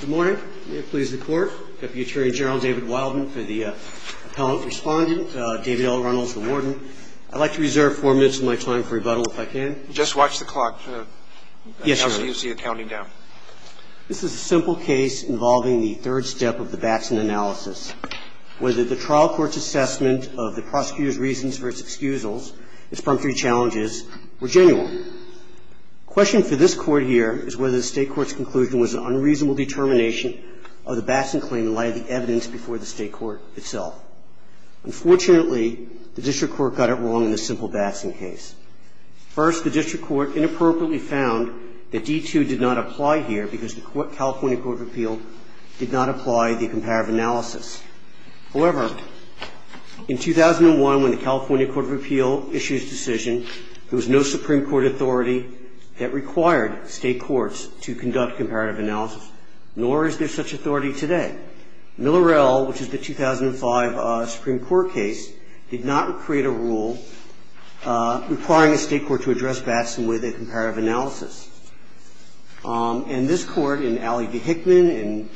Good morning. May it please the Court. Deputy Attorney General David Wildman for the Appellant Respondent. David L. Reynolds, the Warden. I'd like to reserve four minutes of my time for rebuttal, if I can. Just watch the clock. Yes, Your Honor. This is a simple case involving the third step of the Batson analysis. Whether the trial court's assessment of the prosecutor's reasons for his excusals, his promptly challenges, were genuine. The question for this Court here is whether the state court's conclusion was an unreasonable determination of the Batson claim in light of the evidence before the state court itself. Unfortunately, the district court got it wrong in this simple Batson case. First, the district court inappropriately found that D2 did not apply here because the California Court of Appeal did not apply the comparative analysis. However, in 2001, when the California Court of Appeal issued its decision, there was no Supreme Court authority that required state courts to conduct comparative analysis, nor is there such authority today. Millerell, which is the 2005 Supreme Court case, did not create a rule requiring a state court to address Batson with a comparative analysis. And this Court, in Alley v. Hickman, in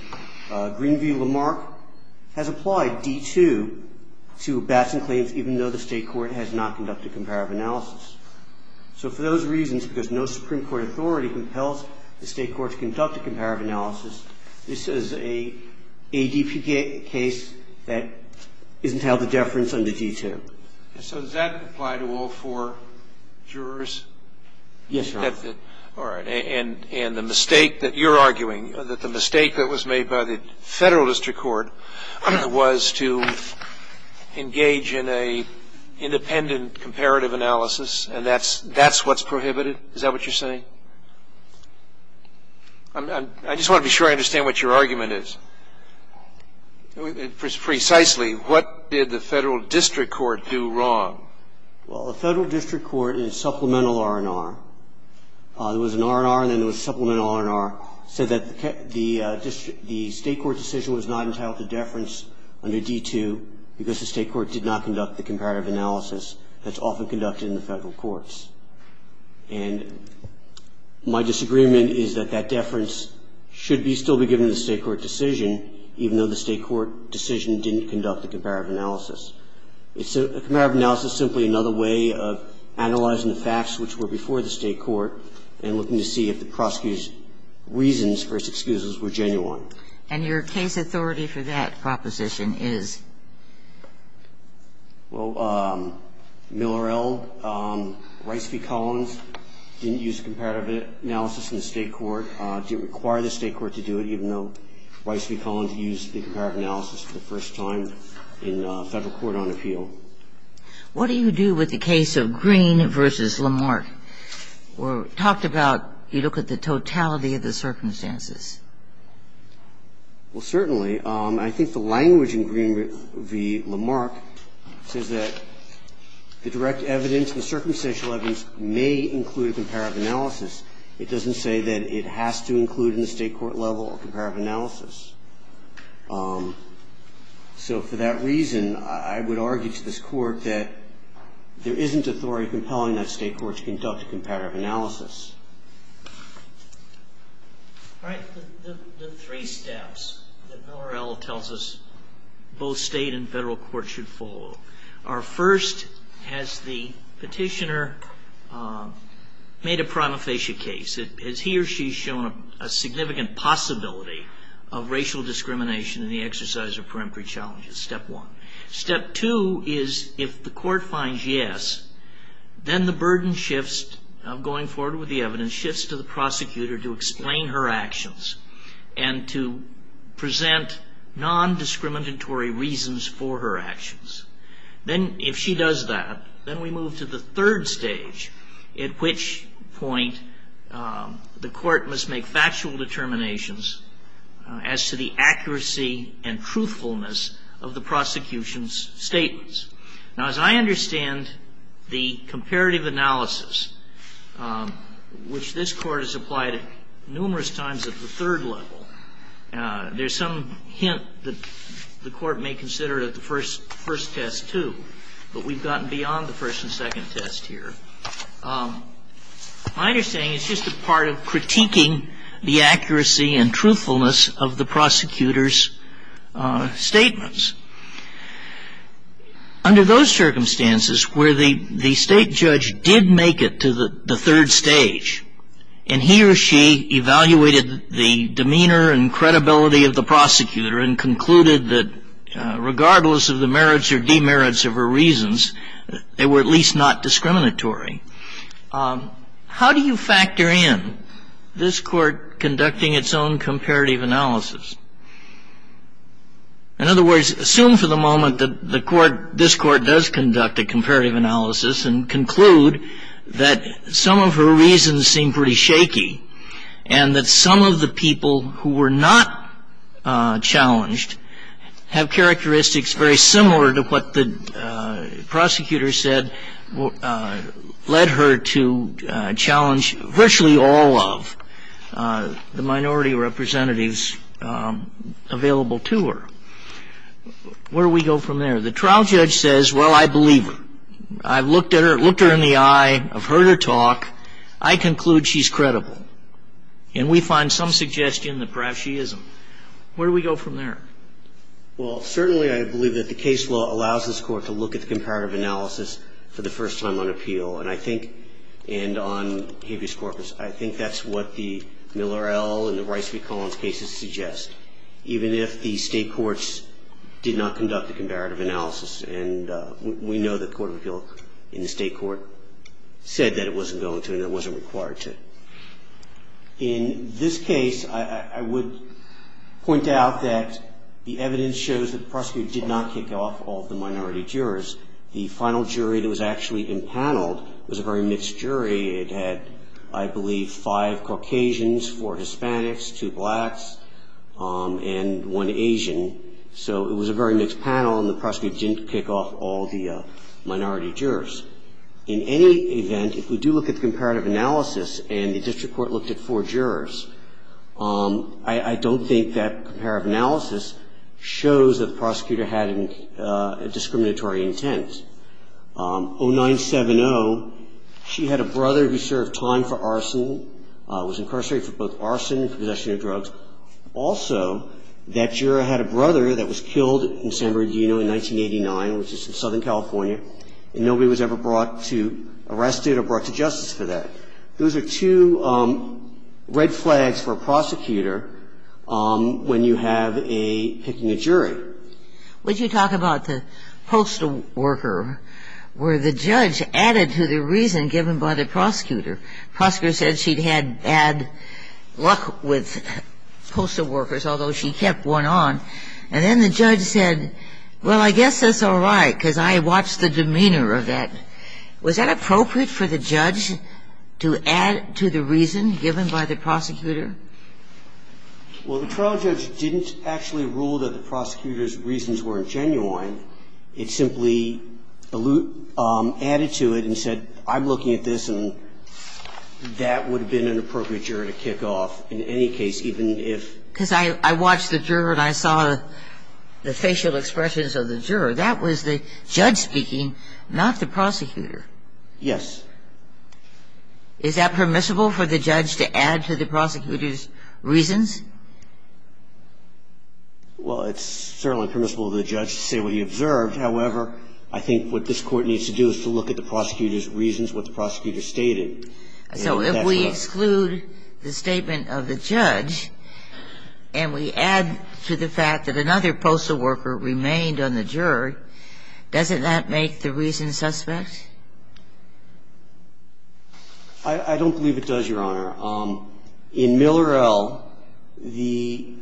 Greenview v. Lamarck, has applied D2 to Batson claims even though the state court has not conducted comparative analysis. So for those reasons, because no Supreme Court authority compels the state court to conduct a comparative analysis, this is an ADP case that isn't held to deference under D2. And so does that apply to all four jurors? Yes, Your Honor. All right. And the mistake that you're arguing, that the mistake that was made by the Federal District Court was to engage in an independent comparative analysis, and that's what's prohibited? Is that what you're saying? I just want to be sure I understand what your argument is. Precisely, what did the Federal District Court do wrong? Well, the Federal District Court in Supplemental R&R, there was an R&R and then there was Supplemental R&R, said that the state court decision was not entitled to deference under D2 because the state court did not conduct the comparative analysis that's often conducted in the Federal courts. And my disagreement is that that deference should be still be given to the state court decision, even though the state court decision didn't conduct the comparative analysis. A comparative analysis is simply another way of analyzing the facts which were before the state court and looking to see if the prosecutor's reasons for his excuses were genuine. And your case authority for that proposition is? Well, Millerell, Rice v. Collins didn't use comparative analysis in the state court, didn't require the state court to do it, even though Rice v. Collins used the comparative analysis for the first time in Federal court on appeal. What do you do with the case of Green v. Lamarck? We talked about you look at the totality of the circumstances. Well, certainly. I think the language in Green v. Lamarck says that the direct evidence, the circumstantial evidence may include a comparative analysis. It doesn't say that it has to include in the state court level a comparative analysis. So for that reason, I would argue to this Court that there isn't authority compelling that state court to conduct a comparative analysis. All right. The three steps that Millerell tells us both state and Federal court should follow are first, has the petitioner made a prima facie case? Has he or she shown a significant possibility of racial discrimination in the exercise of peremptory challenges? Step one. Step two is if the court finds yes, then the burden shifts going forward to a prosecutor to explain her actions and to present non-discriminatory reasons for her actions. Then if she does that, then we move to the third stage, at which point the court must make factual determinations as to the accuracy and truthfulness of the prosecution's statements. Now, there's some hint that the court may consider that the first test, too, but we've gotten beyond the first and second test here. My understanding is it's just a part of critiquing the accuracy and truthfulness of the prosecutor's statements. Under those circumstances where the state judge did make it to the third stage, and he or she evaluated the demeanor and credibility of the prosecutor and concluded that regardless of the merits or demerits of her reasons, they were at least not discriminatory, how do you factor in this court conducting its own comparative analysis? In other words, assume for the moment that the court, this court does conduct a comparative analysis of the prosecutor's statements, and that the prosecutor's reasons seem pretty shaky, and that some of the people who were not challenged have characteristics very similar to what the prosecutor said led her to challenge virtually all of the minority representatives available to her. Where do we go from there? The trial judge says, well, I believe her. I've looked at her, looked her in the eye, I've heard her talk. I conclude she's credible. And we find some suggestion that perhaps she isn't. Where do we go from there? Well, certainly I believe that the case law allows this court to look at the comparative analysis for the first time on appeal, and I think, and on habeas corpus, I think that's what the Miller L. and the Rice v. Collins cases suggest. Even if the state courts did not conduct a comparative analysis, and we know the court of appeal in the state court said that it wasn't going to and it wasn't required to. In this case, I would point out that the evidence shows that the prosecutor did not kick off all of the minority jurors. The final jury that was actually empaneled was a very mixed jury. It had, I believe, five Caucasians, four Hispanics, two blacks, and one Asian. So it was a very mixed panel, and the prosecutor didn't kick off all the minority jurors. In any event, if we do look at the comparative analysis and the district court looked at four jurors, I don't think that comparative analysis shows that the prosecutor had a discriminatory intent. I think it's important to point out that in the case of the San Bernardino case, 0970, she had a brother who served time for arson, was incarcerated for both arson and possession of drugs. Also, that juror had a brother that was killed in San Bernardino in 1989, which is in Southern California, and nobody was ever brought to arrest it or brought to justice for that. So I think it's important to point out that in the case of the San Bernardino case, those are two red flags for a prosecutor when you have a picking a jury. What did you talk about, the postal worker, where the judge added to the reason given by the prosecutor? The prosecutor said she'd had bad luck with postal workers, although she kept one on. And then the judge said, well, I guess that's all right, because I watched the demeanor of that. Was that appropriate for the judge to add to the reason given by the prosecutor? Well, the trial judge didn't actually rule that the prosecutor's reasons weren't genuine. It simply added to it and said, I'm looking at this, and that would have been an appropriate juror to kick off in any case, even if the prosecutor had a bad luck. And that's what I saw. I saw the facial expressions of the juror. That was the judge speaking, not the prosecutor. Yes. Is that permissible for the judge to add to the prosecutor's reasons? Well, it's certainly permissible for the judge to say what he observed. However, I think what this Court needs to do is to look at the prosecutor's reasons, what the prosecutor stated. So if we exclude the statement of the judge and we add to the fact that another postal worker remained on the juror, doesn't that make the reason suspect? I don't believe it does, Your Honor. In Miller L., the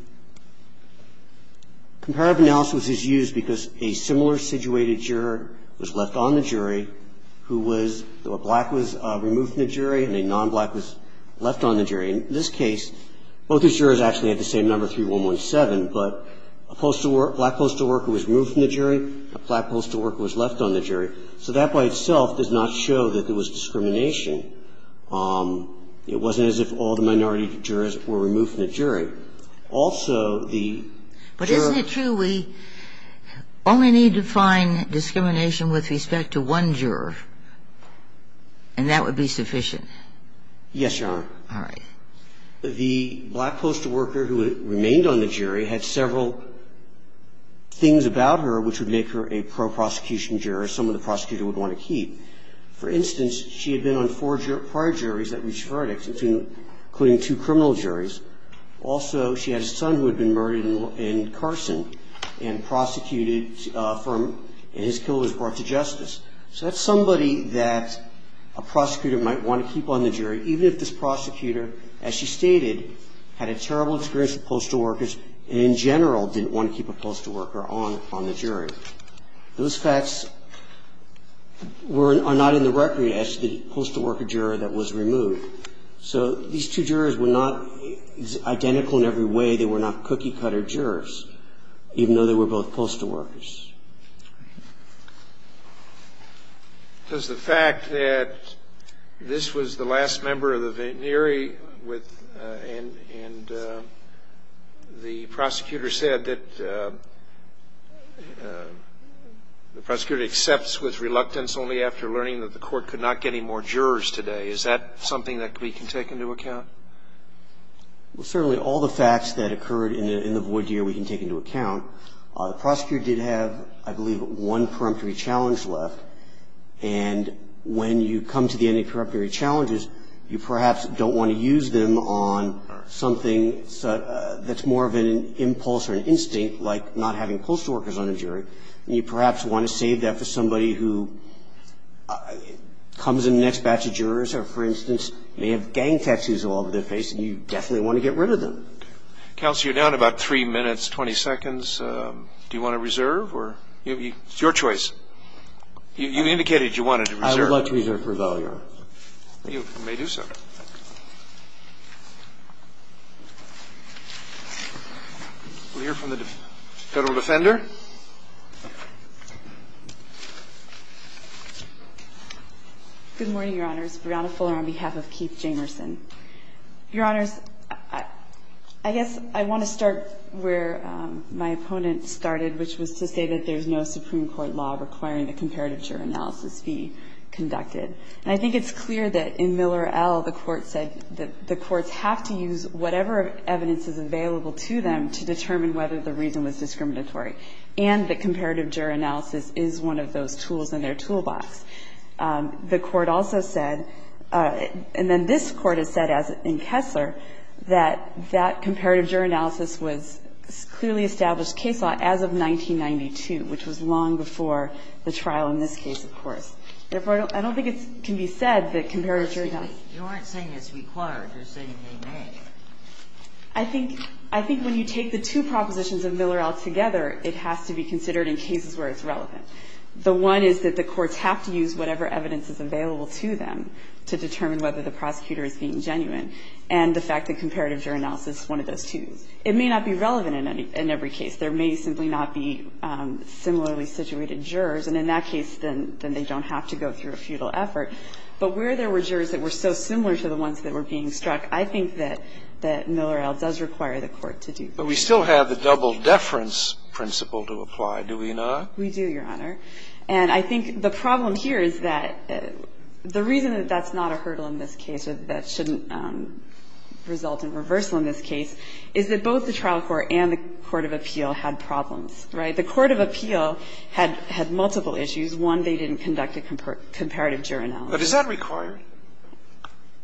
comparative analysis is used because a similar-situated juror was left on the jury who was – a black was removed from the jury and a non-black was left on the jury. In this case, both the jurors actually had the same number, 3117, but a black postal worker was removed from the jury, a black postal worker was left on the jury. So that by itself does not show that there was discrimination. It wasn't as if all the minority jurors were removed from the jury. Also, the juror – But isn't it true we only need to find discrimination with respect to one juror and that would be sufficient? Yes, Your Honor. All right. The black postal worker who remained on the jury had several things about her which would make her a pro-prosecution juror, someone the prosecutor would want to keep. For instance, she had been on four prior juries that reached verdicts, including two criminal juries. Also, she had a son who had been murdered in Carson and prosecuted from – and his killer was brought to justice. So that's somebody that a prosecutor might want to keep on the jury even if this prosecutor, as she stated, had a terrible experience with postal workers and in general didn't want to keep a postal worker on the jury. Those facts are not in the record as to the postal worker juror that was removed. So these two jurors were not identical in every way. They were not cookie-cutter jurors, even though they were both postal workers. Does the fact that this was the last member of the venere with – and the prosecutor said that the prosecutor accepts with reluctance only after learning that the court could not get any more jurors today. Is that something that we can take into account? Well, certainly all the facts that occurred in the void year we can take into account. The prosecutor did have, I believe, one preemptory challenge left. And when you come to the end of preemptory challenges, you perhaps don't want to use them on something that's more of an impulse or an instinct, like not having postal workers on the jury. And you perhaps want to save that for somebody who comes in the next batch of jurors who, for instance, may have gang tattoos all over their face and you definitely want to get rid of them. Counsel, you're down about 3 minutes, 20 seconds. Do you want to reserve or – it's your choice. You indicated you wanted to reserve. I would like to reserve for Valior. You may do so. We'll hear from the Federal Defender. Good morning, Your Honors. Breonna Fuller on behalf of Keith Jamerson. Your Honors, I guess I want to start where my opponent started, which was to say that there's no Supreme Court law requiring a comparative juror analysis be conducted. And I think it's clear that in Miller L., the Court said that the courts have to use whatever evidence is available to them to determine whether the reason was discriminatory. And the comparative juror analysis is one of those tools in their toolbox. The Court also said, and then this Court has said in Kessler, that that comparative juror analysis was clearly established case law as of 1992, which was long before the trial in this case, of course. Therefore, I don't think it can be said that comparative juror analysis – You aren't saying it's required. You're saying they may. I think when you take the two propositions of Miller L. together, it has to be considered in cases where it's relevant. The one is that the courts have to use whatever evidence is available to them to determine whether the prosecutor is being genuine. And the fact that comparative juror analysis is one of those tools. It may not be relevant in every case. There may simply not be similarly situated jurors. And in that case, then they don't have to go through a feudal effort. But where there were jurors that were so similar to the ones that were being struck, I think that Miller L. does require the Court to do that. But we still have the double deference principle to apply, do we not? We do, Your Honor. And I think the problem here is that the reason that that's not a hurdle in this case, that that shouldn't result in reversal in this case, is that both the trial court and the court of appeal had problems, right? The court of appeal had multiple issues. One, they didn't conduct a comparative juror analysis. But is that required?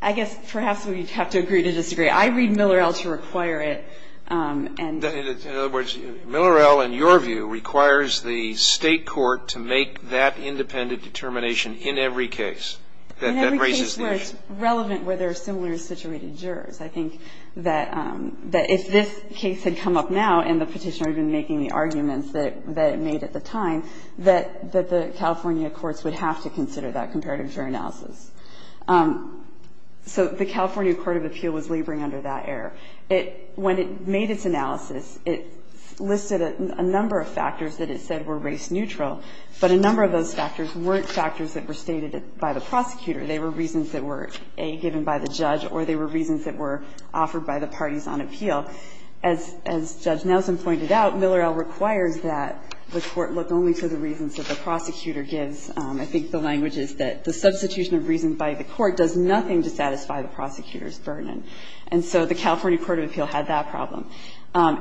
I guess perhaps we'd have to agree to disagree. I read Miller L. to require it. And the other words, Miller L., in your view, requires the State court to make that independent determination in every case. That raises the issue. In every case where it's relevant, where there are similar situated jurors. I think that if this case had come up now and the Petitioner had been making the arguments that it made at the time, that the California courts would have to consider that comparative juror analysis. So the California court of appeal was laboring under that error. When it made its analysis, it listed a number of factors that it said were race neutral, but a number of those factors weren't factors that were stated by the prosecutor. They were reasons that were, A, given by the judge, or they were reasons that were offered by the parties on appeal. As Judge Nelson pointed out, Miller L. requires that the court look only to the reasons that the prosecutor gives. I think the language is that the substitution of reasons by the court does nothing to satisfy the prosecutor's burden. And so the California court of appeal had that problem.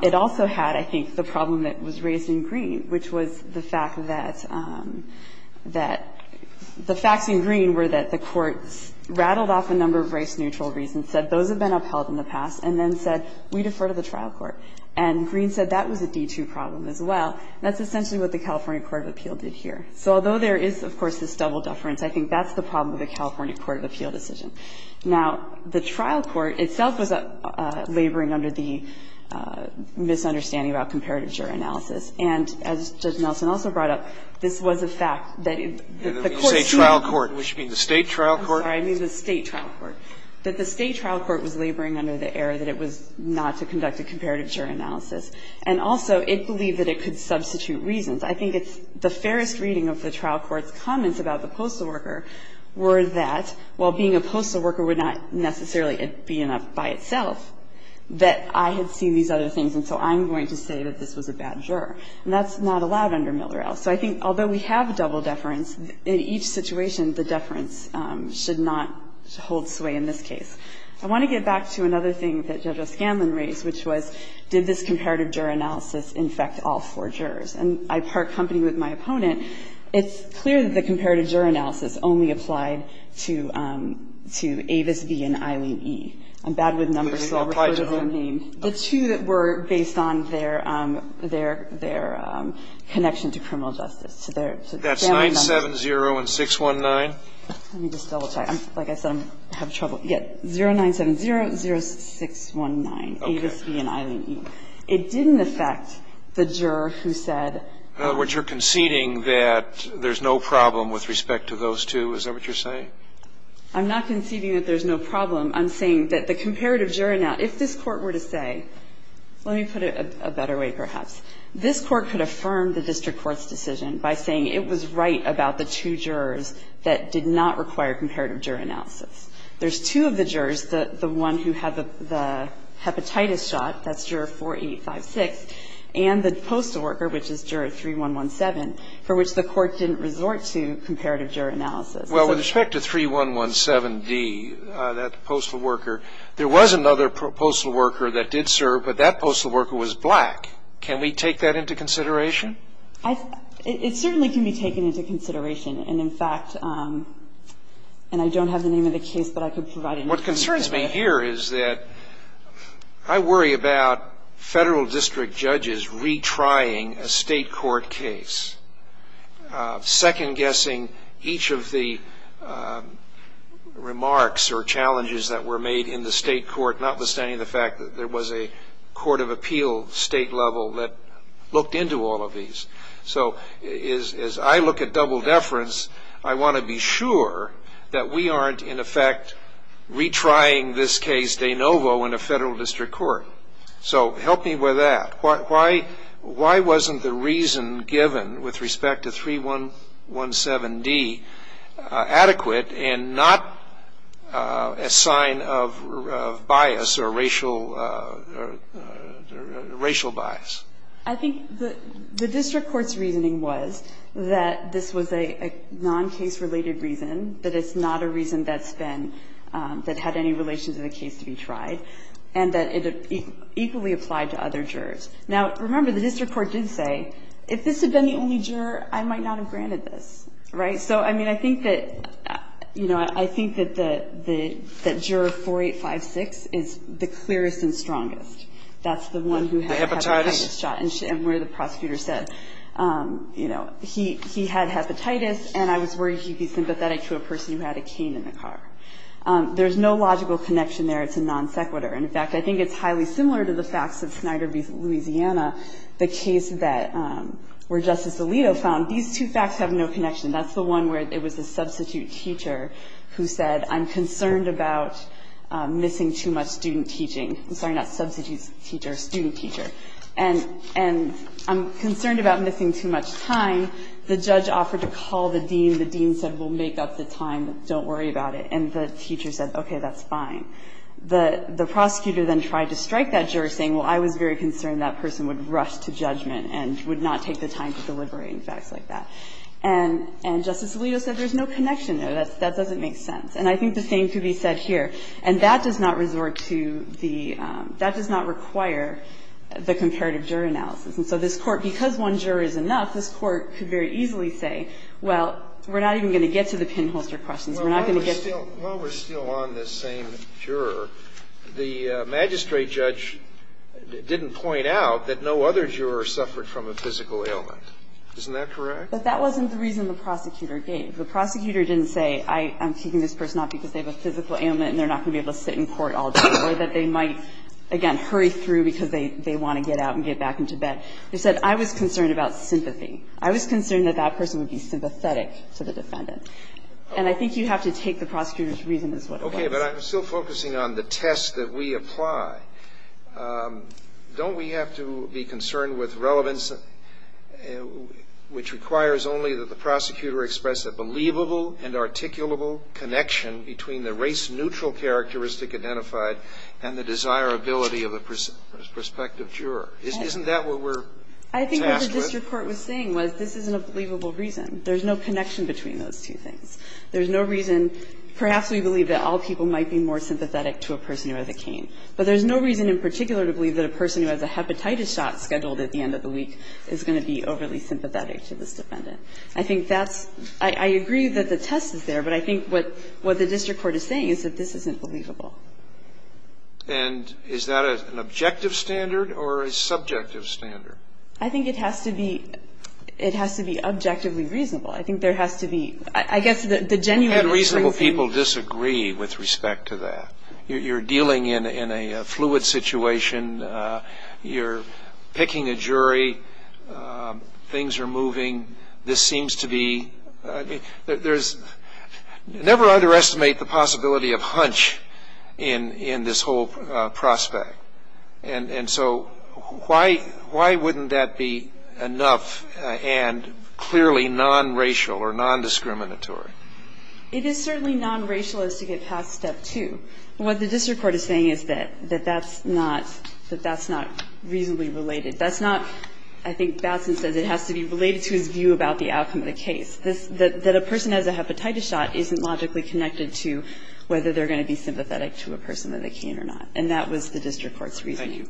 It also had, I think, the problem that was raised in Green, which was the fact that the facts in Green were that the courts rattled off a number of race neutral reasons, said those have been upheld in the past, and then said we defer to the trial court. And Green said that was a D2 problem as well. And that's essentially what the California court of appeal did here. So although there is, of course, this double deference, I think that's the problem with the California court of appeal decision. Now, the trial court itself was laboring under the misunderstanding about comparative juror analysis. And as Judge Nelson also brought up, this was a fact that the court sued. Scalia. And when you say trial court, would you mean the State trial court? I'm sorry. I mean the State trial court. That the State trial court was laboring under the error that it was not to conduct a comparative juror analysis. And also, it believed that it could substitute reasons. I think it's the fairest reading of the trial court's comments about the postal worker were that, while being a postal worker would not necessarily be enough by itself, that I had seen these other things, and so I'm going to say that this was a bad juror. And that's not allowed under Miller-Ell. So I think although we have double deference, in each situation, the deference should not hold sway in this case. I want to get back to another thing that Judge O'Scanlan raised, which was did this court accompany with my opponent? It's clear that the comparative juror analysis only applied to Avis B. and Eileen E. I'm bad with numbers, so I'll refer to their name. The two that were based on their connection to criminal justice. That's 970 and 619? Let me just double check. Like I said, I'm having trouble. Yes. 0970, 0619, Avis B. and Eileen E. It didn't affect the juror who said. In other words, you're conceding that there's no problem with respect to those two? Is that what you're saying? I'm not conceding that there's no problem. I'm saying that the comparative juror analysis, if this Court were to say, let me put it a better way perhaps, this Court could affirm the district court's decision by saying it was right about the two jurors that did not require comparative juror analysis. There's two of the jurors, the one who had the hepatitis shot, that's juror 4856, and the postal worker, which is juror 3117, for which the Court didn't resort to comparative juror analysis. Well, with respect to 3117D, that postal worker, there was another postal worker that did serve, but that postal worker was black. Can we take that into consideration? It certainly can be taken into consideration. And in fact, and I don't have the name of the case, but I could provide it. What concerns me here is that I worry about Federal district judges retrying a State court case, second-guessing each of the remarks or challenges that were made in the State court, notwithstanding the fact that there was a court of appeal State level that looked into all of these. So as I look at double deference, I want to be sure that we aren't, in effect, retrying this case de novo in a Federal district court. So help me with that. Why wasn't the reason given with respect to 3117D adequate and not a sign of bias or racial bias? I think the district court's reasoning was that this was a non-case-related reason, that it's not a reason that's been, that had any relation to the case to be tried, and that it equally applied to other jurors. Now, remember, the district court did say, if this had been the only juror, I might not have granted this, right? So, I mean, I think that, you know, I think that the juror 4856 is the clearest and strongest. That's the one who had a hepatitis shot and where the prosecutor said, you know, he had hepatitis and I was worried he'd be sympathetic to a person who had a cane in the car. There's no logical connection there. It's a non sequitur. In fact, I think it's highly similar to the facts of Snyder v. Louisiana, the case that where Justice Alito found. These two facts have no connection. That's the one where it was a substitute teacher who said, I'm concerned about missing too much student teaching. I'm sorry, not substitute teacher, student teacher. And I'm concerned about missing too much time. The judge offered to call the dean. The dean said, we'll make up the time. Don't worry about it. And the teacher said, okay, that's fine. The prosecutor then tried to strike that juror, saying, well, I was very concerned that person would rush to judgment and would not take the time to deliberate in facts like that. And Justice Alito said there's no connection there. That doesn't make sense. And I think the same could be said here. And that does not resort to the – that does not require the comparative juror analysis. And so this Court, because one juror is enough, this Court could very easily say, well, we're not even going to get to the pinholster questions. We're not going to get to the other jurors. Scalia. Well, while we're still on this same juror, the magistrate judge didn't point out that no other juror suffered from a physical ailment. Isn't that correct? But that wasn't the reason the prosecutor gave. The prosecutor didn't say, I'm taking this person out because they have a physical ailment and they're not going to be able to sit in court all day or that they might, again, hurry through because they want to get out and get back into bed. He said, I was concerned about sympathy. I was concerned that that person would be sympathetic to the defendant. And I think you have to take the prosecutor's reason as what it was. Okay. But I'm still focusing on the test that we apply. Don't we have to be concerned with relevance, which requires only that the prosecutor express a believable and articulable connection between the race-neutral characteristic identified and the desirability of a prospective juror? Isn't that what we're tasked with? I think what the district court was saying was this is an unbelievable reason. There's no connection between those two things. There's no reason. Perhaps we believe that all people might be more sympathetic to a person who has a cane. But there's no reason in particular to believe that a person who has a hepatitis shot scheduled at the end of the week is going to be overly sympathetic to this defendant. I think that's – I agree that the test is there, but I think what the district court is saying is that this isn't believable. And is that an objective standard or a subjective standard? I think it has to be – it has to be objectively reasonable. I think there has to be – I guess the genuineness thing is the same. How do reasonable people disagree with respect to that? You're picking a jury. Things are moving. This seems to be – there's – never underestimate the possibility of hunch in this whole prospect. And so why wouldn't that be enough and clearly nonracial or nondiscriminatory? It is certainly nonracial as to get past step two. What the district court is saying is that that's not – that that's not reasonably related. That's not – I think Batson says it has to be related to his view about the outcome of the case, that a person who has a hepatitis shot isn't logically connected to whether they're going to be sympathetic to a person that they can or not. And that was the district court's reasoning.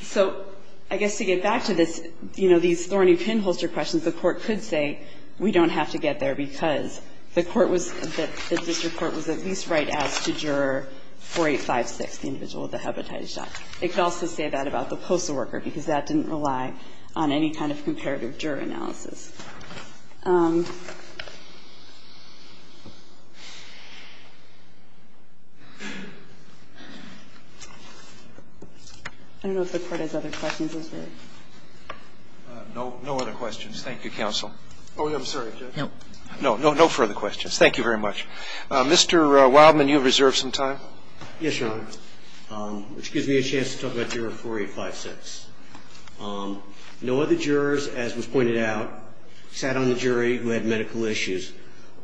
So I guess to get back to this, you know, these thorny pinholster questions, the court could say we don't have to get there because the court was – the district court was at least right as to juror 4856, the individual with the hepatitis shot. It could also say that about the postal worker, because that didn't rely on any kind of comparative juror analysis. I don't know if the Court has other questions. Those are it. Roberts. No. No other questions. Thank you, counsel. Oh, I'm sorry, Judge. No. No. No further questions. Thank you very much. Mr. Wildman, you have reserved some time. Yes, Your Honor. I have reserved some time, which gives me a chance to talk about juror 4856. No other jurors, as was pointed out, sat on the jury who had medical issues.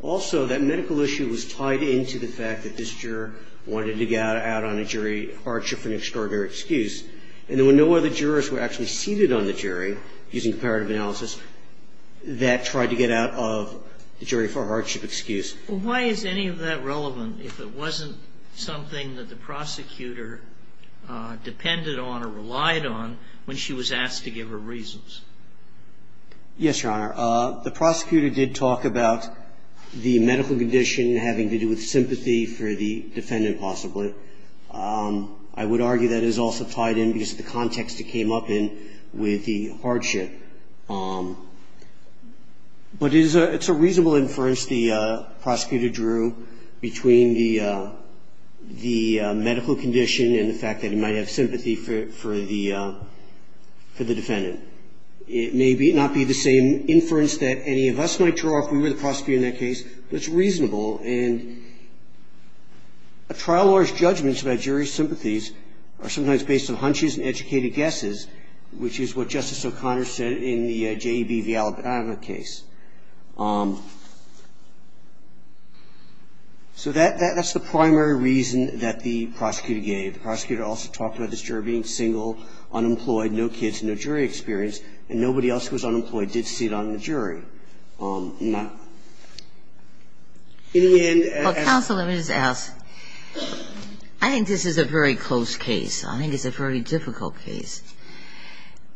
Also, that medical issue was tied into the fact that this juror wanted to get out on a jury hardship for an extraordinary excuse. And there were no other jurors who were actually seated on the jury, using comparative analysis, that tried to get out of the jury for a hardship excuse. Well, why is any of that relevant, if it wasn't something that the prosecutor depended on or relied on when she was asked to give her reasons? Yes, Your Honor. The prosecutor did talk about the medical condition having to do with sympathy for the defendant, possibly. I would argue that is also tied in because of the context it came up in with the hardship. But it's a reasonable inference the prosecutor drew between the medical condition and the fact that he might have sympathy for the defendant. It may not be the same inference that any of us might draw if we were the prosecutor in that case, but it's reasonable. And a trial lawyer's judgments about jury sympathies are sometimes based on hunches and educated guesses, which is what Justice O'Connor said in the J.E.B. v. Alabama case. So that's the primary reason that the prosecutor gave. The prosecutor also talked about this juror being single, unemployed, no kids, no jury experience, and nobody else who was unemployed did sit on the jury. In the end, as the Judge said, I think this is a very close case. I think it's a very difficult case.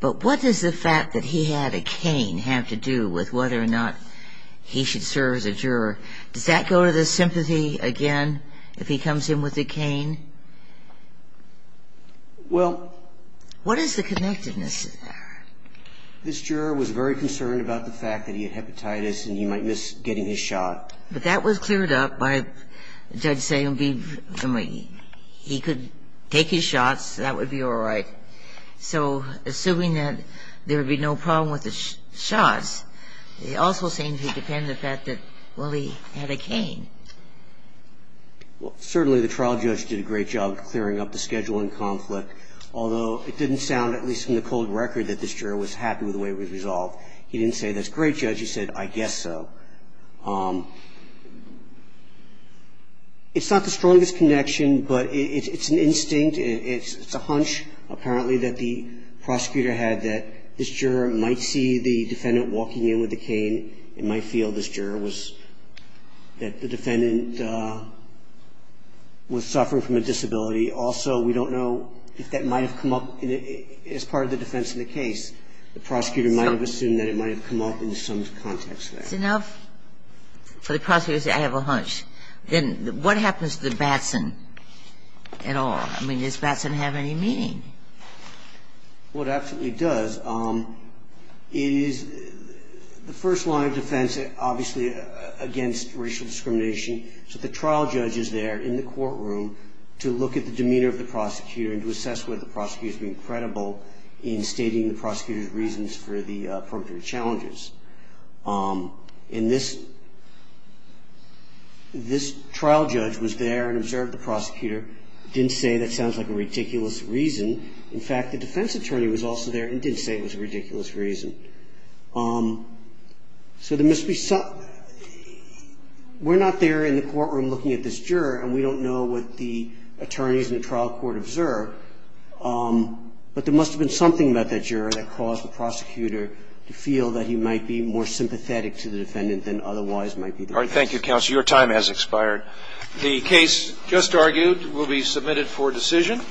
But what does the fact that he had a cane have to do with whether or not he should serve as a juror? Does that go to the sympathy again if he comes in with a cane? Well, what is the connectedness of that? This juror was very concerned about the fact that he had hepatitis and he might miss getting his shot. But that was cleared up by the judge saying he could take his shots, that would be all right. So assuming that there would be no problem with the shots, he also seemed to depend on the fact that, well, he had a cane. Well, certainly the trial judge did a great job of clearing up the schedule and conflict, although it didn't sound, at least in the cold record, that this juror was happy with the way it was resolved. He didn't say that's great, Judge. He said, I guess so. It's not the strongest connection, but it's an instinct. It's a hunch, apparently, that the prosecutor had that this juror might see the defendant walking in with a cane. It might feel this juror was, that the defendant was suffering from a disability. Also, we don't know if that might have come up as part of the defense in the case. The prosecutor might have assumed that it might have come up in some context there. And I don't know if that's enough for the prosecutor to say, I have a hunch. Then what happens to Batson at all? I mean, does Batson have any meaning? What absolutely does is the first line of defense, obviously, against racial discrimination, so the trial judge is there in the courtroom to look at the demeanor of the prosecutor and to assess whether the prosecutor is being credible in stating the prosecutor's case for the purported challenges. And this trial judge was there and observed the prosecutor, didn't say, that sounds like a ridiculous reason. In fact, the defense attorney was also there and didn't say it was a ridiculous reason. So there must be some, we're not there in the courtroom looking at this juror, and we don't know what the attorneys in the trial court observed, but there must have been something about that juror that caused the prosecutor to feel that he might be more sympathetic to the defendant than otherwise might be the case. Thank you, counsel. Your time has expired. The case just argued will be submitted for decision.